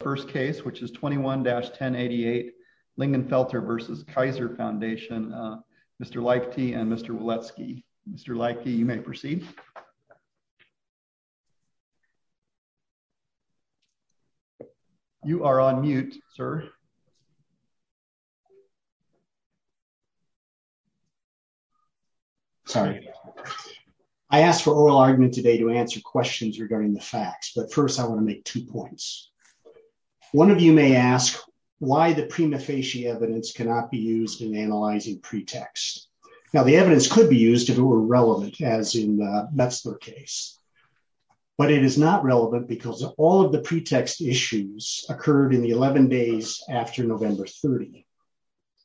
First Case, which is 21-1088 Lingenfelter v. Kaiser Foundation, Mr. Leichty and Mr. Wilecki. Mr. Leichty, you may proceed. You are on mute, sir. Sorry. I asked for oral argument today to answer questions regarding the facts, but first I want to make two points. One of you may ask why the prima facie evidence cannot be used in analyzing pretext. Now, the evidence could be used if it were relevant, as in the Metzler case, but it is not relevant because all of the pretext issues occurred in the 11 days after November 30.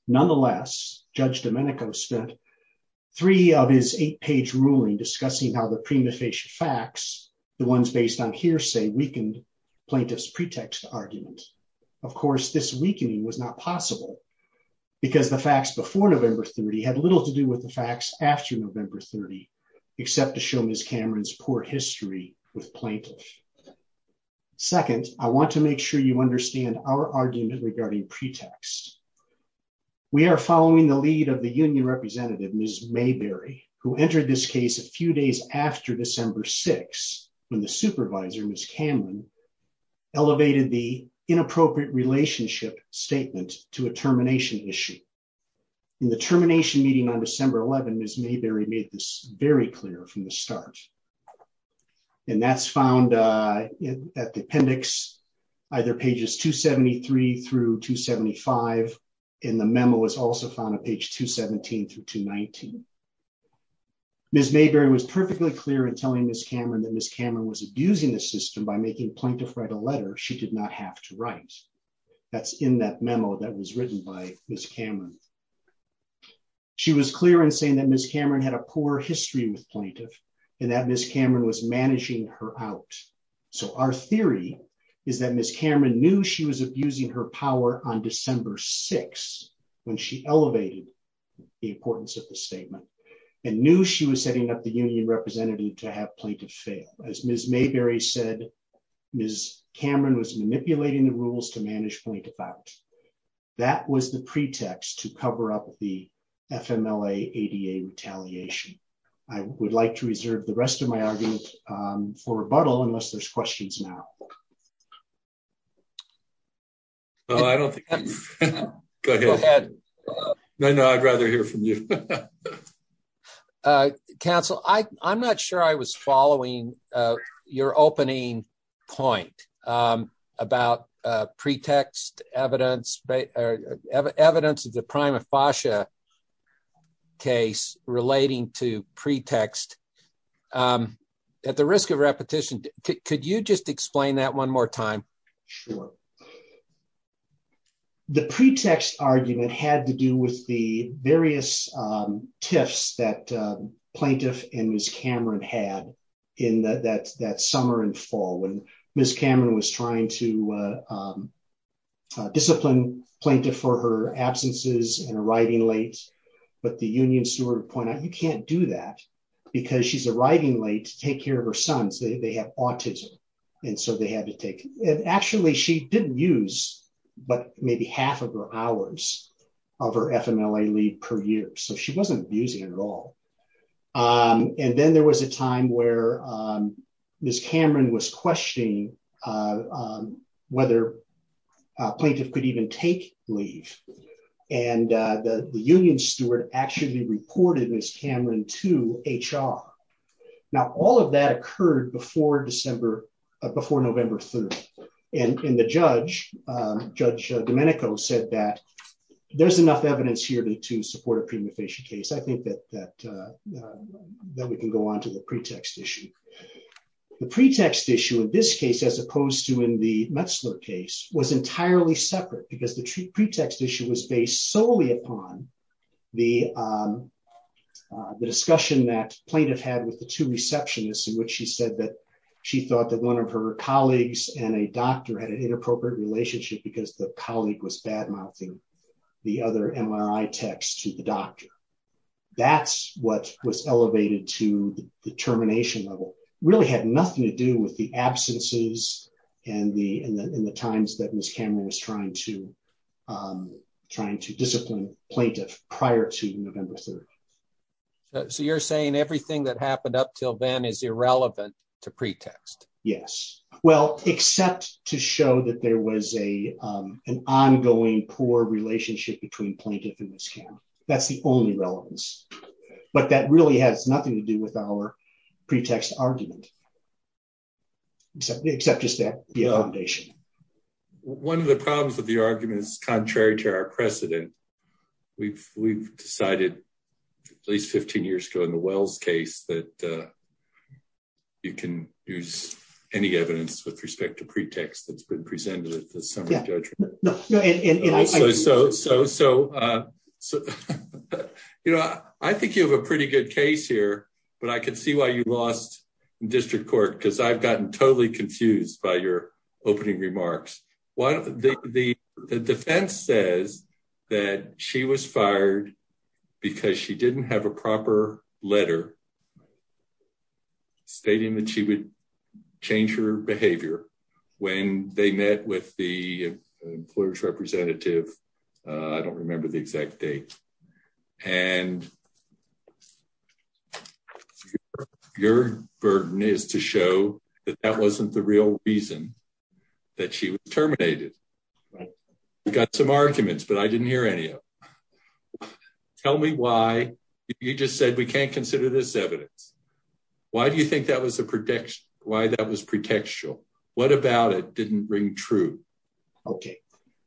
Nonetheless, Judge Domenico spent three of his eight-page ruling discussing how the prima facie facts, the ones based on hearsay, weakened plaintiff's pretext argument. Of course, this weakening was not possible because the facts before November 30 had little to do with the facts after November 30, except to show Ms. Cameron's poor history with plaintiffs. Second, I want to make sure you understand our argument regarding pretext. We are following the lead of the union representative, Ms. Mayberry, who entered this case a few days after December 6, when the supervisor, Ms. Cameron, elevated the inappropriate relationship statement to a termination issue. In the termination meeting on December 11, Ms. Mayberry made this very clear from the start, and that's found at the appendix, either pages 273 through 275, and the memo is also found on page 217 through 219. Ms. Mayberry was perfectly clear in telling Ms. Cameron that Ms. Cameron was abusing the system by making plaintiff write a letter she did not have to write. That's in that memo that was written by Ms. Cameron. She was clear in saying that Ms. Cameron had a poor history with plaintiffs, and that Ms. Cameron was managing her out. So, our theory is that Ms. Cameron knew she was abusing her power on December 6, when she elevated the importance of the statement, and knew she was setting up the union representative to have plaintiffs fail. As Ms. Mayberry said, Ms. Cameron was manipulating the rules to manage plaintiff out. That was the pretext to cover up the FMLA-ADA retaliation. I would like to reserve the rest of my argument for rebuttal, unless there's questions now. No, I don't think... Go ahead. Go ahead. No, no, I'd rather hear from you. Council, I'm not sure I was following your opening point about pretext evidence, or evidence of the prima facie case relating to pretext at the risk of repetition. Could you just explain that one more time? Sure. The pretext argument had to do with the various tiffs that plaintiff and Ms. Cameron had in that summer and fall, when Ms. Cameron was trying to discipline plaintiff for her absences and arriving late, but the union steward pointed out, you can't do that, because she's arriving late to take care of her sons. They have autism, and so they had to take... Actually, she didn't use but maybe half of her hours of her FMLA leave per year. So, she wasn't abusing it at all. Then there was a time where Ms. Cameron was questioning whether a plaintiff could even take leave, and the union steward actually reported Ms. Cameron to HR. Now, all of that occurred before November 3rd, and the judge, Judge Domenico, said that there's enough evidence here to support a prima facie case. I think that we can go on to the pretext issue. The pretext issue in this case, as opposed to in the Metzler case, was entirely separate, because the pretext issue was based solely upon the discussion that plaintiff had with the two receptionists, in which she said that she thought that one of her colleagues and a doctor had an inappropriate relationship, because the colleague was to the doctor. That's what was elevated to the termination level. It really had nothing to do with the absences and the times that Ms. Cameron was trying to discipline plaintiff prior to November 3rd. So, you're saying everything that happened up till then is irrelevant to pretext? Yes. Well, except to show that there was an ongoing poor relationship between plaintiff and Ms. Cameron. That's the only relevance, but that really has nothing to do with our pretext argument, except just that the accommodation. One of the problems with the argument is, contrary to our precedent, we've decided at least 15 years ago in the Wells case that you can use any evidence with respect to pretext that's been presented at the summary judgment. I think you have a pretty good case here, but I can see why you lost in district court, because I've gotten totally confused by your opening remarks. The defense says that she was fired because she didn't have a proper letter stating that she would change her behavior when they met with the employer's representative. I don't remember the exact date, and your burden is to show that that wasn't the real reason that she was terminated. Right. I've got some arguments, but I didn't hear any of them. Tell me why you just said we can't consider this evidence. Why do you think that was a prediction? Why that was pretextual? What about it didn't ring true? Okay.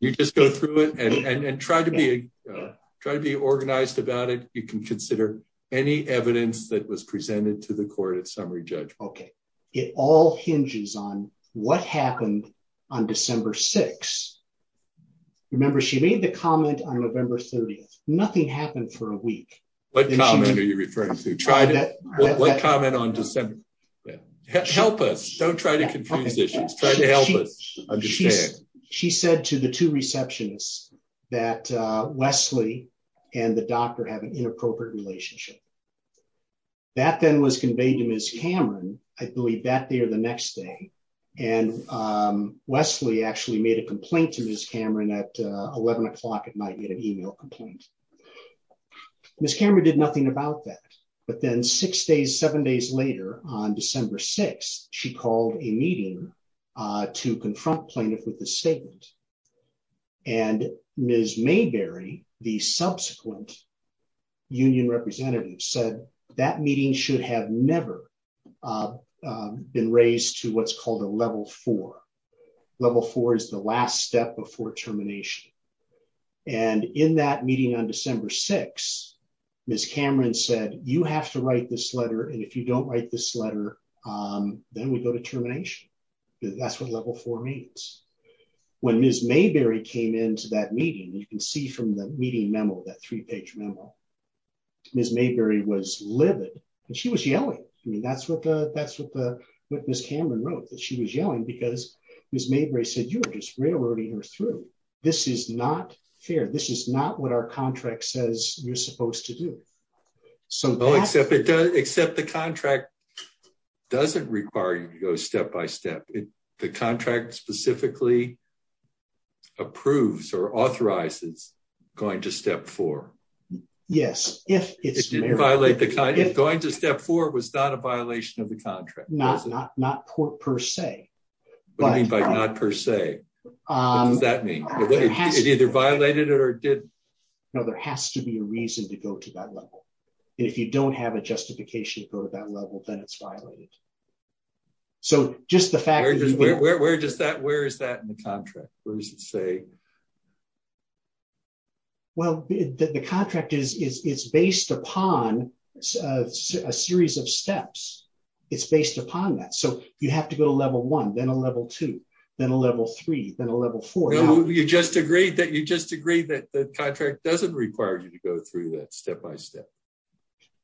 You just go through it and try to be organized about it. You can consider any evidence that was presented to court at summary judgment. Okay. It all hinges on what happened on December 6th. Remember, she made the comment on November 30th. Nothing happened for a week. What comment are you referring to? What comment on December 6th? Help us. Don't try to confuse issues. Try to help us understand. She said to the two receptionists that Wesley and the doctor have an inappropriate relationship. That then was conveyed to Ms. Cameron, I believe that day or the next day. Wesley actually made a complaint to Ms. Cameron at 11 o'clock. It might be an email complaint. Ms. Cameron did nothing about that, but then six days, seven days later on December 6th, she called a meeting to confront plaintiff with a statement. And Ms. Mayberry, the subsequent union representative said that meeting should have never been raised to what's called a level four. Level four is the last step before termination. And in that meeting on December 6th, Ms. Cameron said, you have to write this letter. And if you write this letter, then we go to termination. That's what level four means. When Ms. Mayberry came into that meeting, you can see from the meeting memo, that three page memo, Ms. Mayberry was livid and she was yelling. I mean, that's what Ms. Cameron wrote, that she was yelling because Ms. Mayberry said, you are just railroading her through. This is not fair. This is not what our contract says you're supposed to do. So, except the contract doesn't require you to go step by step. The contract specifically approves or authorizes going to step four. Yes. If going to step four was not a violation of the contract. Not per se. What do you mean by not per se? What does that mean? It either violated it or didn't. No, there has to be a reason to go to that level. And if you don't have a justification to go to that level, then it's violated. Where is that in the contract? What does it say? Well, the contract is based upon a series of steps. It's based upon that. So, you have to level one, then a level two, then a level three, then a level four. You just agreed that the contract doesn't require you to go through that step by step.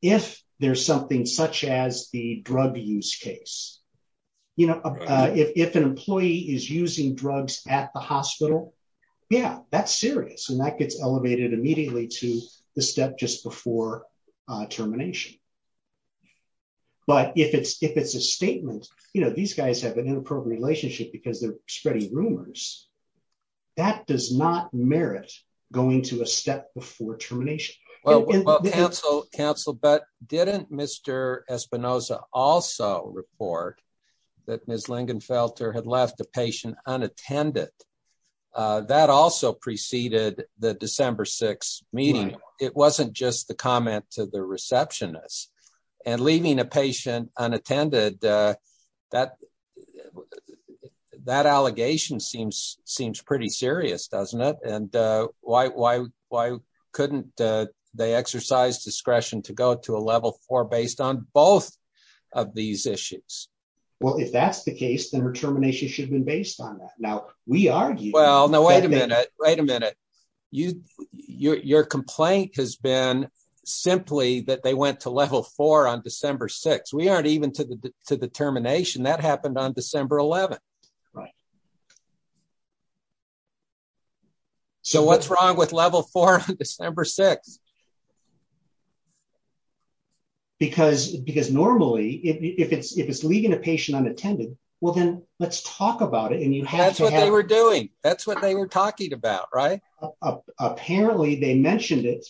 If there's something such as the drug use case. If an employee is using drugs at the hospital, yeah, that's serious. And that gets elevated immediately to the step just before termination. But if it's a statement, you know, these guys have an inappropriate relationship because they're spreading rumors. That does not merit going to a step before termination. Well, counsel, but didn't Mr. Espinoza also report that Ms. Lingenfelter had left the patient unattended? That also preceded the December 6th meeting. It wasn't just the comment to the receptionist. And leaving a patient unattended, that allegation seems pretty serious, doesn't it? And why couldn't they exercise discretion to go to a level four based on both of these issues? Well, if that's the case, then her termination should have been based on that. Now, we argue. Well, no, wait a minute. Wait a minute. Your complaint has been simply that they went to level four on December 6th. We aren't even to the termination. That happened on December 11th. So what's wrong with level four on December 6th? Because normally, if it's leaving a patient unattended, well, then let's talk about it. And that's what they were doing. That's what they were talking about, right? Apparently, they mentioned it.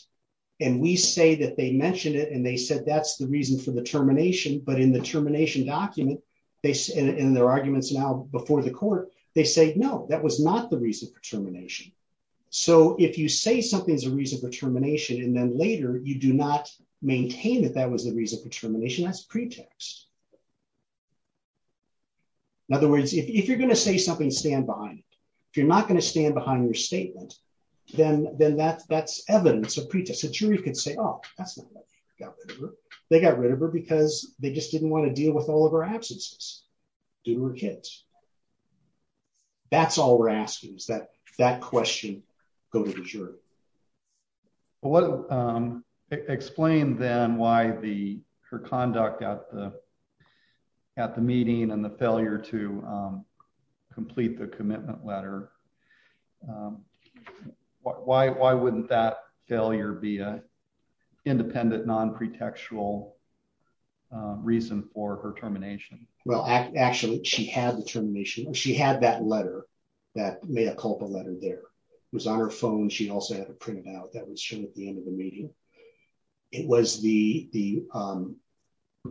And we say that they mentioned it. And they said that's the reason for the termination. But in the termination document, they said in their arguments now before the court, they say, no, that was not the reason for termination. So if you say something is a reason for termination, and then later, you do not maintain that that was the reason for termination as pretext. In other words, if you're going to say something, stand behind it. If you're not going to stand behind your statement, then that's evidence of pretext. A jury could say, oh, that's not right. They got rid of her because they just didn't want to deal with all of her absences. They were kids. That's all we're asking is that that question go to the jury. Well, what explain then why the her conduct at the at the meeting and the failure to complete the commitment letter? Why wouldn't that failure be a independent non pretextual reason for her termination? Well, actually, she had the termination. She had that letter that may have called the letter there was on her phone. She also had to print it out. That was shown at the end of the meeting. It was the the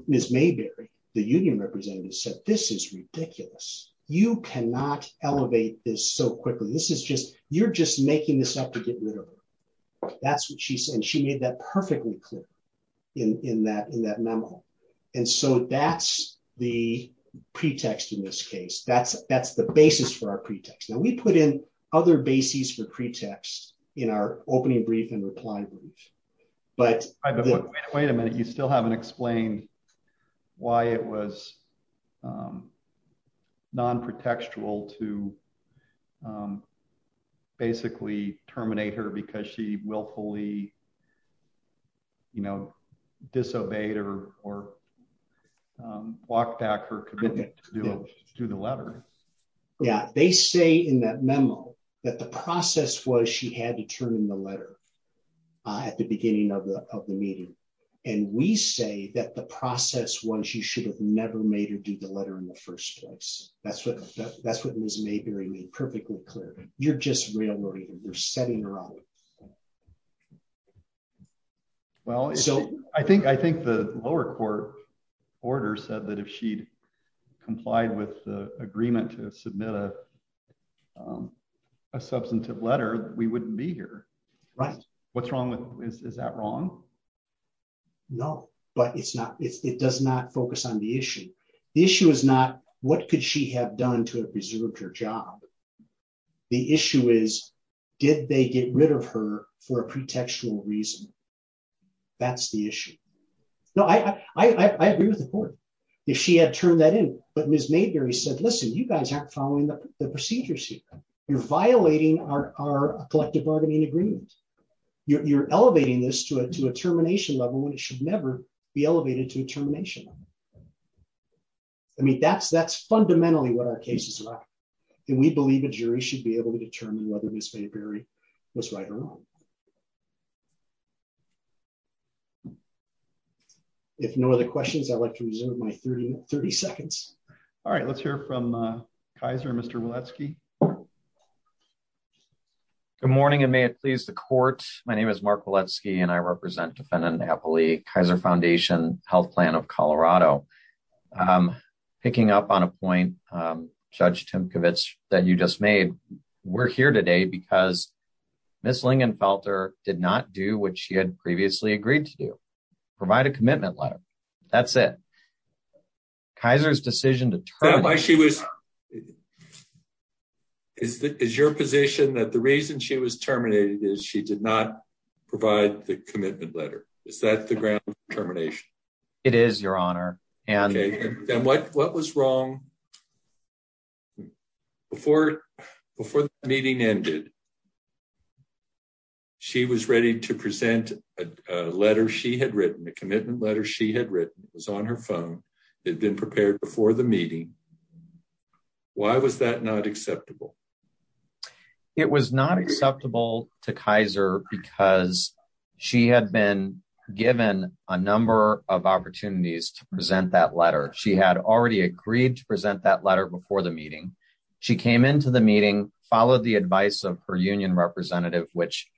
Miss Mayberry, the union representative said, this is ridiculous. You cannot elevate this so quickly. This is just you're just making this up to get rid of her. That's what she said. She made that perfectly clear in that in that memo. And so that's the pretext in this case. That's that's the basis for our pretext. Now, we put in other bases for pretext in our opening brief and reply. But wait a minute, you still haven't explained why it was non pretextual to basically terminate her because she willfully. You know, disobeyed or or walked back her commitment to the letter. Yeah, they say in that memo that the process was she had to turn in the letter at the beginning of the of the meeting. And we say that the process was you should have never made her do the letter in the first place. That's what that's what Miss Mayberry perfectly clear. You're just really you're setting her up. Well, so I think I think the lower court order said that if she'd complied with the agreement to submit a substantive letter, we wouldn't be here. Right. What's wrong with is that wrong? No, but it's not. It does not focus on the issue. The issue is not what could have done to preserve her job. The issue is, did they get rid of her for a pretextual reason? That's the issue. No, I agree with the court if she had turned that in. But Miss Mayberry said, listen, you guys aren't following the procedures. You're violating our collective bargaining agreement. You're elevating this to a to a termination level when it should never be elevated to a termination. I mean, that's that's fundamentally what our cases are. And we believe a jury should be able to determine whether Miss Mayberry was right or wrong. If no other questions, I'd like to reserve my 30 seconds. All right, let's hear from Kaiser, Mr. Waletsky. Good morning, and may it please the court. My name is Mark Waletsky, and I represent defendant Kaiser Foundation Health Plan of Colorado. Picking up on a point, Judge Timkovich, that you just made. We're here today because Miss Lingenfelter did not do what she had previously agreed to do. Provide a commitment letter. That's it. Kaiser's decision to terminate. Is your position that the reason she was terminated is she did not provide the commitment letter? Is that the ground for termination? It is, Your Honor. And what was wrong? Before the meeting ended, she was ready to present a letter she had written, a commitment letter she had written. It was on her phone. It had been prepared before the meeting. Why was that not She had been given a number of opportunities to present that letter. She had already agreed to present that letter before the meeting. She came into the meeting, followed the advice of her union representative, which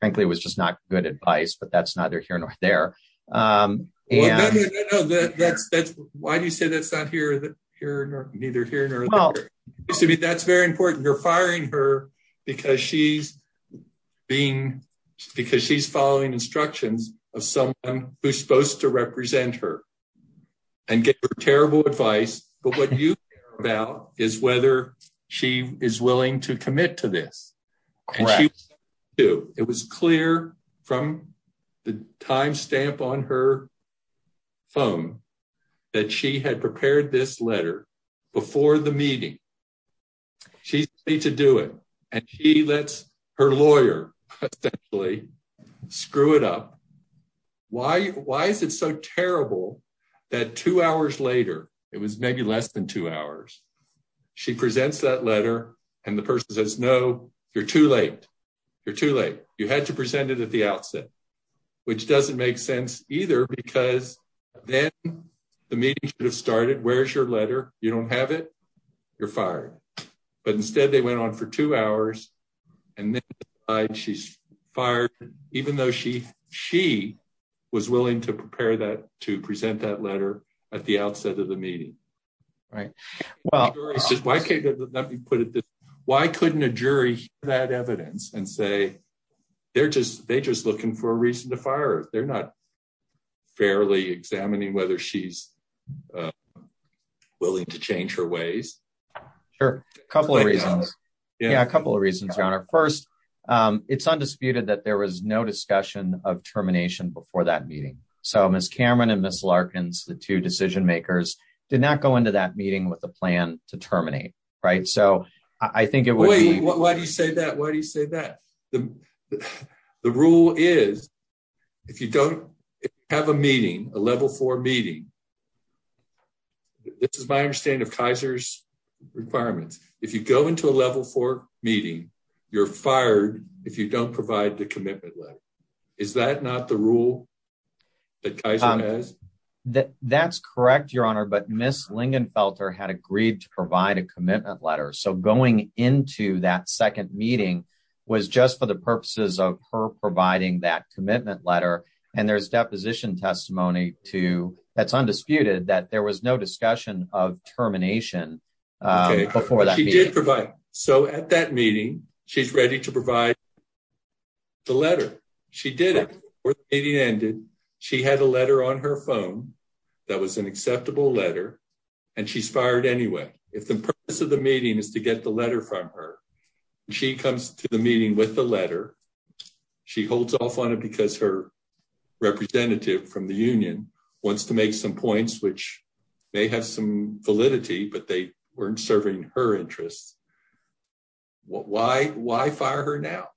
frankly was just not good advice, but that's neither here nor there. Why do you say that's not here neither here nor there? That's very important. You're firing her because she's being, because she's following instructions of someone who's supposed to represent her and give her terrible advice. But what you care about is whether she is willing to commit to this. It was clear from the time stamp on her phone that she had prepared this and she lets her lawyer essentially screw it up. Why is it so terrible that two hours later, it was maybe less than two hours, she presents that letter and the person says, no, you're too late. You're too late. You had to present it at the outset, which doesn't make sense either, because then the meeting should have started. Where's your letter? You don't have it. You're on for two hours and then she's fired, even though she was willing to prepare that, to present that letter at the outset of the meeting. Why couldn't a jury hear that evidence and say, they're just looking for a reason to fire her. They're not fairly examining whether she's willing to change her ways. Sure. A couple of reasons. Yeah. A couple of reasons, Your Honor. First, it's undisputed that there was no discussion of termination before that meeting. So Ms. Cameron and Ms. Larkins, the two decision makers, did not go into that meeting with a plan to terminate. So I think it was- Wait, why do you say that? Why do you say that? The rule is, if you don't have a meeting, a level four meeting, this is my understanding of Kaiser's requirements. If you go into a level four meeting, you're fired if you don't provide the commitment letter. Is that not the rule that Kaiser has? That's correct, Your Honor. But Ms. Lingenfelter had agreed to provide a commitment letter. So going into that second meeting was just for the purposes of her providing that commitment letter. And there's deposition testimony that's undisputed that there was no discussion of termination before that meeting. Okay. But she did provide. So at that meeting, she's ready to provide the letter. She did it. Before the meeting ended, she had a letter on her phone that was an acceptable letter, and she's fired anyway. If the purpose of the meeting is to get the letter from her, and she comes to the meeting with the letter, she holds off on it because her representative from the union wants to make some points, which may have some validity, but they weren't serving her interests. Why fire her now?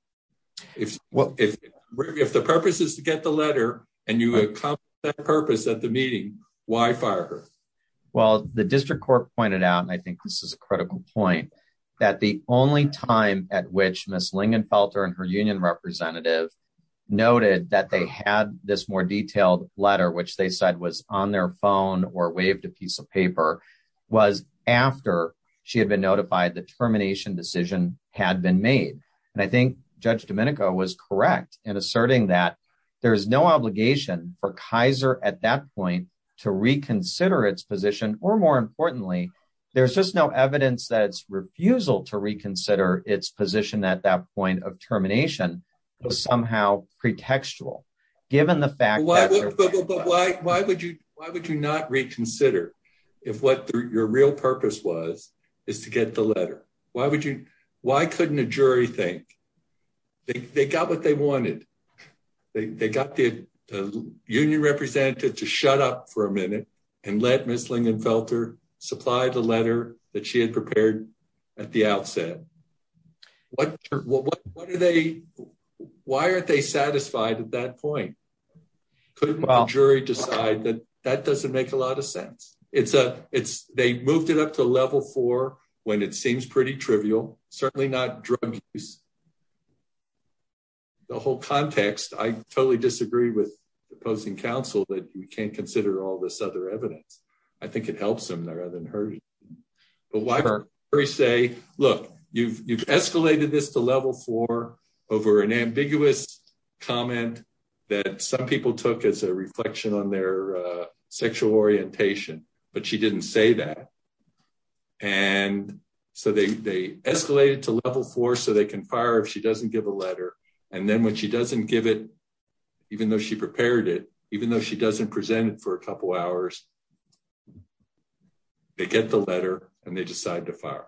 If the purpose is to get the letter, and you accomplished that purpose at the meeting, why fire her? Well, the district court pointed out, and I think this is a critical point, that the only time at which Ms. Lingenfelter and her union representative noted that they had this more detailed letter, which they said was on their phone or waived a piece of paper, was after she had been notified the termination decision had been made. And I think Judge Domenico was correct in asserting that there is no obligation for Kaiser at that point to reconsider its position, or more importantly, there's just no evidence that its refusal to reconsider its position at that point of termination was somehow pretextual, given the fact- But why would you not reconsider if what your real purpose was is to get the letter? Why couldn't a and let Ms. Lingenfelter supply the letter that she had prepared at the outset? Why aren't they satisfied at that point? Couldn't the jury decide that that doesn't make a lot of sense? They moved it up to level four when it seems pretty trivial, certainly not drug use. In the whole context, I totally disagree with opposing counsel that you can't consider all this other evidence. I think it helps them rather than hurt them. But why would the jury say, look, you've escalated this to level four over an ambiguous comment that some people took as a reflection on their sexual orientation, but she didn't say that. And so they escalated to level four so they can fire if she doesn't give a letter. And then when she doesn't give it, even though she prepared it, even though she doesn't present it for a couple hours, they get the letter and they decide to fire.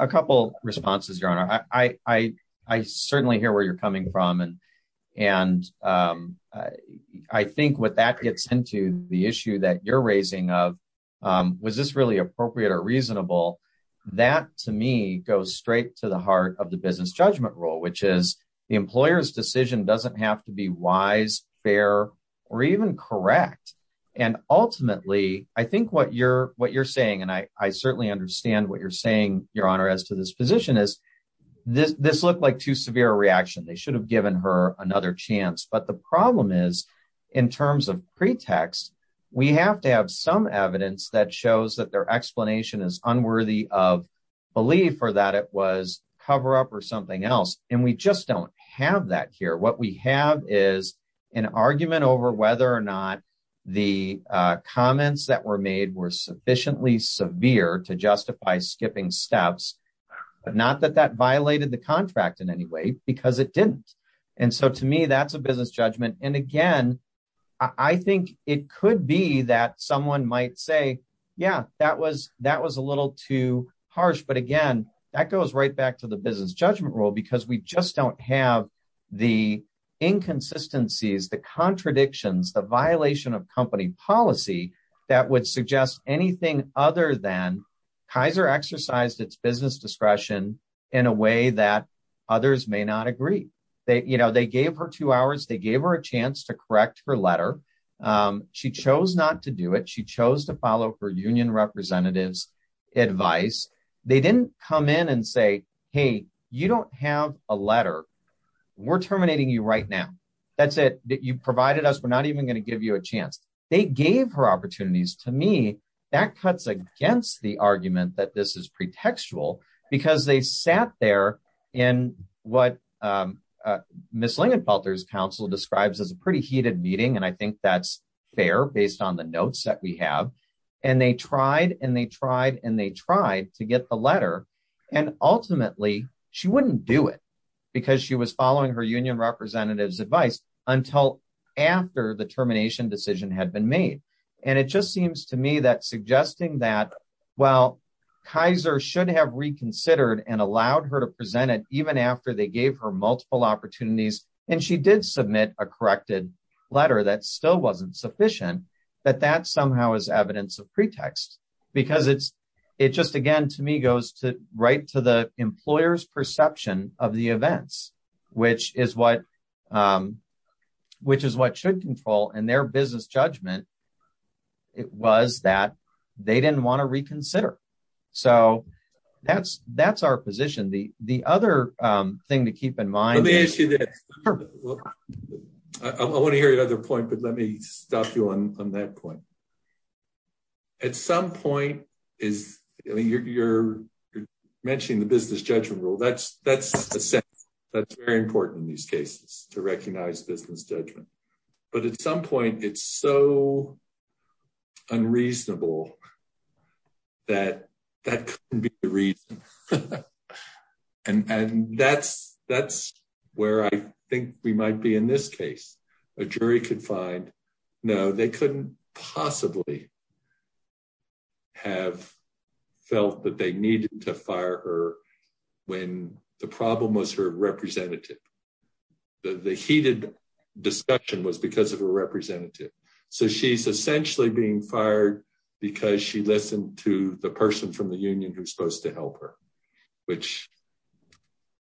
A couple responses, Your Honor. I certainly hear where you're coming from. And I think what that gets into the issue that you're raising of, was this really appropriate or reasonable? That, to me, goes straight to the heart of the business judgment rule, which is the employer's decision doesn't have to be wise, fair, or even correct. And ultimately, I think what you're saying, and I certainly understand what you're saying, Your Honor, as to this position, is this looked like too severe a reaction. They should have given her another chance. But the problem is, in terms of pretext, we have to have some evidence that shows that their explanation is unworthy of belief or that it was cover up or something else. And we just don't have that here. What we have is an argument over whether or not the comments that were made were sufficiently severe to justify skipping steps, but not that that violated the business judgment. And again, I think it could be that someone might say, yeah, that was a little too harsh. But again, that goes right back to the business judgment rule, because we just don't have the inconsistencies, the contradictions, the violation of company policy that would suggest anything other than Kaiser exercised its business discretion in a way that others may not agree. You know, they gave her two hours, they gave her a chance to correct her letter. She chose not to do it. She chose to follow her union representatives' advice. They didn't come in and say, hey, you don't have a letter. We're terminating you right now. That's it. You provided us. We're not even going to give you a chance. They gave her opportunities. To me, that cuts against the argument that this is pretextual, because they sat there in what Ms. Lingenfelter's counsel describes as a pretty heated meeting. And I think that's fair based on the notes that we have. And they tried and they tried and they tried to get the letter. And ultimately, she wouldn't do it because she was following her union representatives' advice until after the termination decision had been made. And it just seems to me that while Kaiser should have reconsidered and allowed her to present it even after they gave her multiple opportunities, and she did submit a corrected letter that still wasn't sufficient, that that somehow is evidence of pretext. Because it's, it just again, to me, goes to right to the employer's perception of the events, which is what, which is what should business judgment. It was that they didn't want to reconsider. So that's, that's our position. The, the other thing to keep in mind, I want to hear your other point, but let me stop you on that point. At some point is you're, you're mentioning the business judgment rule. That's, that's very important in these cases to recognize business judgment. But at some point, it's so unreasonable that that couldn't be the reason. And, and that's, that's where I think we might be in this case. A jury could find, no, they couldn't possibly have felt that they needed to her representative. The heated discussion was because of a representative. So she's essentially being fired because she listened to the person from the union who's supposed to help her, which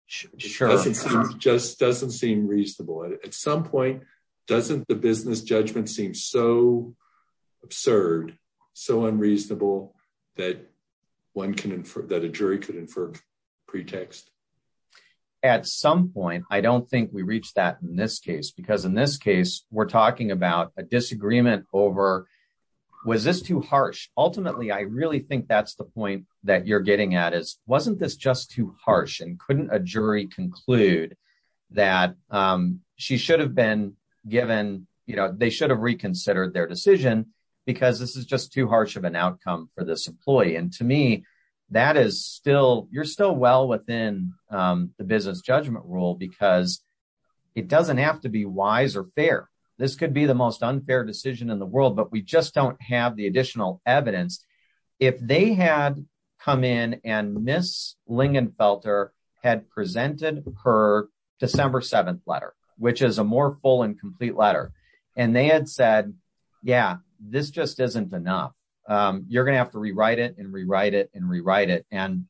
just doesn't seem reasonable. At some point, doesn't the business judgment seem so absurd, so unreasonable that one can infer that a jury could infer pretext. At some point, I don't think we reached that in this case, because in this case, we're talking about a disagreement over, was this too harsh? Ultimately, I really think that's the point that you're getting at is, wasn't this just too harsh and couldn't a jury conclude that she should have been given, you know, they should have reconsidered their decision because this is just too harsh of an outcome for this employee. And to me, that is still, you're still well within the business judgment rule because it doesn't have to be wise or fair. This could be the most unfair decision in the world, but we just don't have the additional evidence. If they had come in and miss Lingenfelter had presented her December 7th letter, which is a more full and complete letter. And they had said, yeah, this just isn't enough. You're going to have to rewrite it and rewrite it and rewrite it. And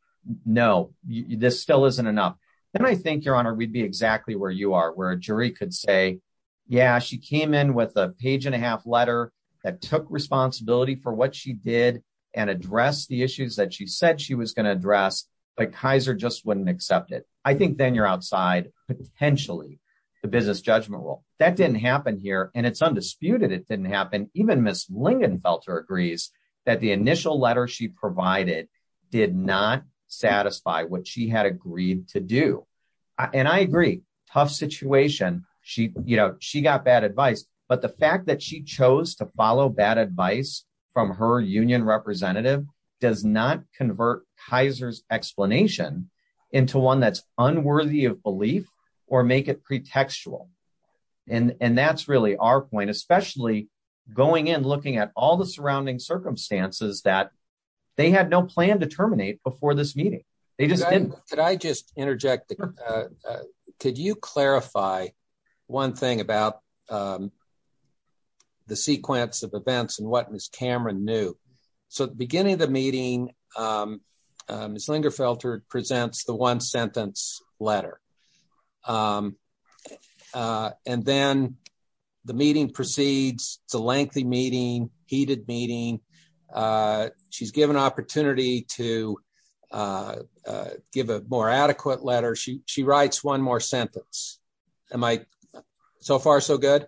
no, this still isn't enough. And I think your honor, we'd be exactly where you are, where a jury could say, yeah, she came in with a page and a half letter that took responsibility for what she did and address the issues that she said she was going to address, but Kaiser just wouldn't accept it. I think then you're outside potentially the business judgment rule. That didn't happen here. And it's undisputed. It didn't happen. Even miss Lingenfelter agrees that the initial letter she provided did not satisfy what she had agreed to do. And I agree tough situation. She, you know, she got bad advice, but the fact that she chose to follow bad advice from her union representative does not convert Kaiser's explanation into one that's unworthy of belief or make it pretextual. And that's really our point, especially going in, looking at all the surrounding circumstances that they had no plan to terminate before this meeting. They just didn't. Could I just interject? Could you clarify one thing about the sequence of events and what Ms. Cameron knew? So at the beginning of the meeting, Ms. Lingenfelter presents the one sentence letter. And then the meeting proceeds. It's a lengthy meeting, heated meeting. She's given opportunity to give a more adequate letter. She writes one more sentence. Am I so far so good?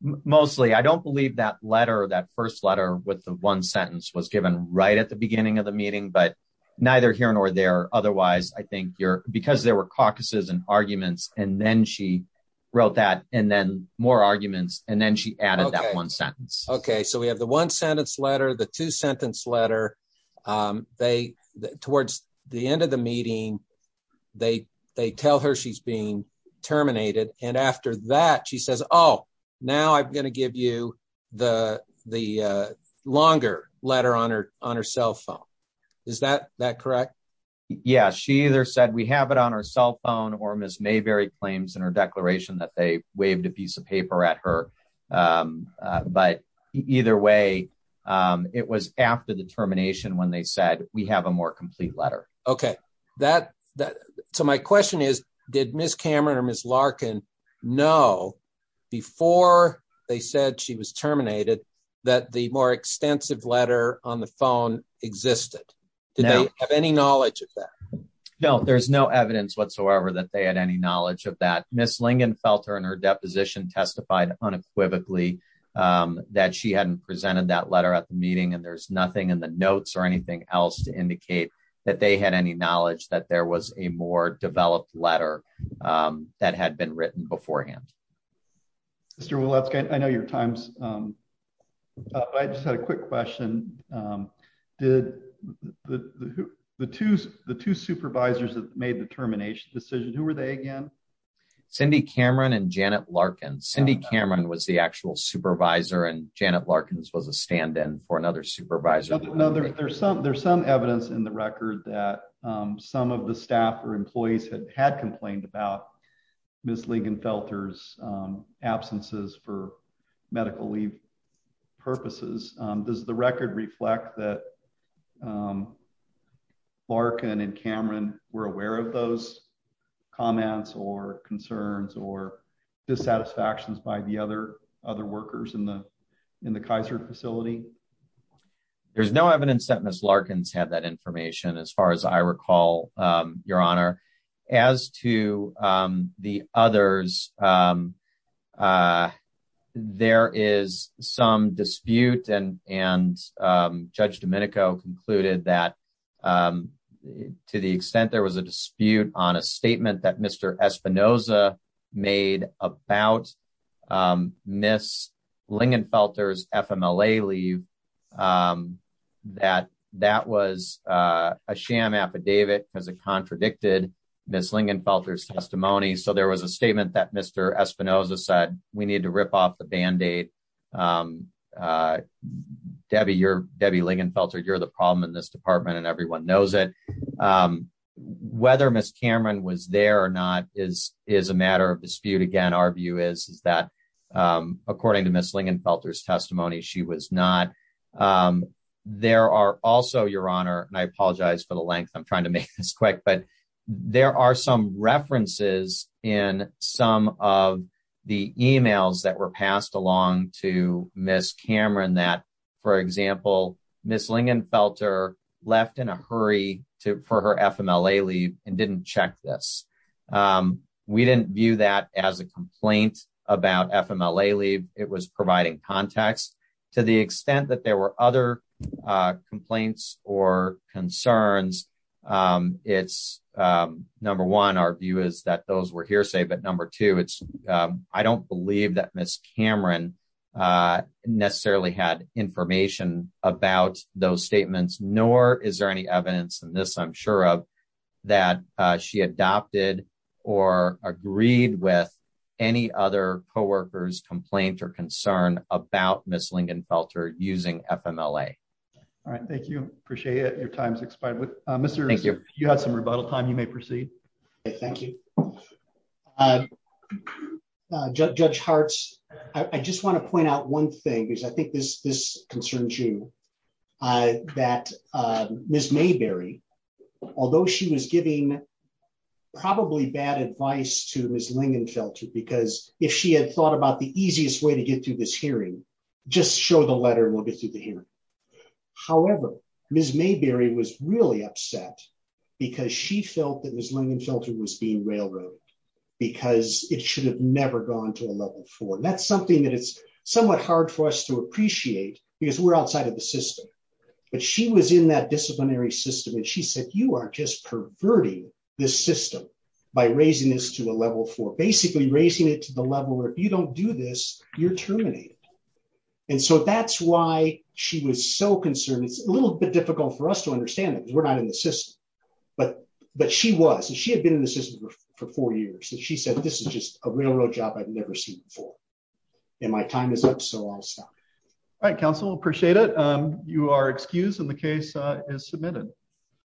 Mostly. I don't believe that letter, that first letter with the one sentence was given right at the beginning of the meeting, but neither here nor there. Otherwise, I think you're because there were caucuses and arguments, and then she wrote that and then more arguments. And then she added that one sentence. Okay. So we have the one sentence letter, the two sentence letter. They, towards the end of the meeting, they, they tell her she's being terminated. And after that, she says, oh, now I'm going to give you the longer letter on her cell phone. Is that correct? Yeah. She either said we have it on our cell phone or Ms. Mayberry claims in her declaration that they waved a piece of paper at her. But either way, it was after the termination when they said we have a more complete letter. Okay. So my question is, did Ms. Cameron or Ms. Larkin know before they said she was terminated, that the more extensive letter on the phone existed? Did they have any knowledge of that? No, there's no evidence whatsoever that they had any knowledge of that. Ms. Lingen felt her in her deposition testified unequivocally that she hadn't presented that letter at the meeting. And there's nothing in the notes or anything else to indicate that they had any knowledge that there was a more developed letter that had been written beforehand. Mr. Woletzka, I know your time's up, but I just had a quick question. Did the two supervisors that made the termination decision, who were they again? Cindy Cameron and Janet Larkin. Cindy Cameron was the actual supervisor and Janet Larkin was a stand-in for another supervisor. No, there's some evidence in the about Ms. Lingenfelter's absences for medical leave purposes. Does the record reflect that Larkin and Cameron were aware of those comments or concerns or dissatisfactions by the other other workers in the, in the Kaiser facility? There's no evidence that Ms. Larkin's had that the others there is some dispute and, and judge Domenico concluded that to the extent there was a dispute on a statement that Mr. Espinoza made about Ms. Lingenfelter's testimony. So there was a statement that Mr. Espinoza said, we need to rip off the band-aid. Debbie, you're Debbie Lingenfelter. You're the problem in this department and everyone knows it. Whether Ms. Cameron was there or not is, is a matter of dispute. Again, our view is, is that according to Ms. Lingenfelter's testimony, she was not. There are also your honor, and I apologize for the length. I'm trying to make this quick, but there are some references in some of the emails that were passed along to Ms. Cameron that for example, Ms. Lingenfelter left in a hurry to, for her FMLA leave and didn't check this. We didn't view that as a complaint about FMLA leave. It was providing context to the extent that there were other complaints or concerns. It's number one, our view is that those were hearsay, but number two, it's I don't believe that Ms. Cameron necessarily had information about those statements, nor is there any evidence in this, I'm sure of that she adopted or agreed with any other coworkers complaint or concern about Ms. Lingenfelter using FMLA. All right. Thank you. Appreciate it. Your time's expired. You had some rebuttal time. You may proceed. Thank you. Judge Hartz. I just want to point out one thing because I think this, this concerns you that Ms. Mayberry, although she was giving probably bad advice to Ms. Lingenfelter, because if she had thought about the easiest way to get through this hearing, just show the letter and we'll get through the hearing. However, Ms. Mayberry was really upset because she felt that Ms. Lingenfelter was being railroaded because it should have never gone to a level four. That's something that it's somewhat hard for us to appreciate because we're outside of the system, but she was in that disciplinary system and she said, you are just perverting this system by raising this to a level four, basically raising it to the level where if you don't do this, you're terminated. And so that's why she was so concerned. It's a little bit difficult for us to understand that because we're not in the system, but, but she was, and she had been in the system for four years. And she said, this is just a railroad job I've You are excused and the case is submitted.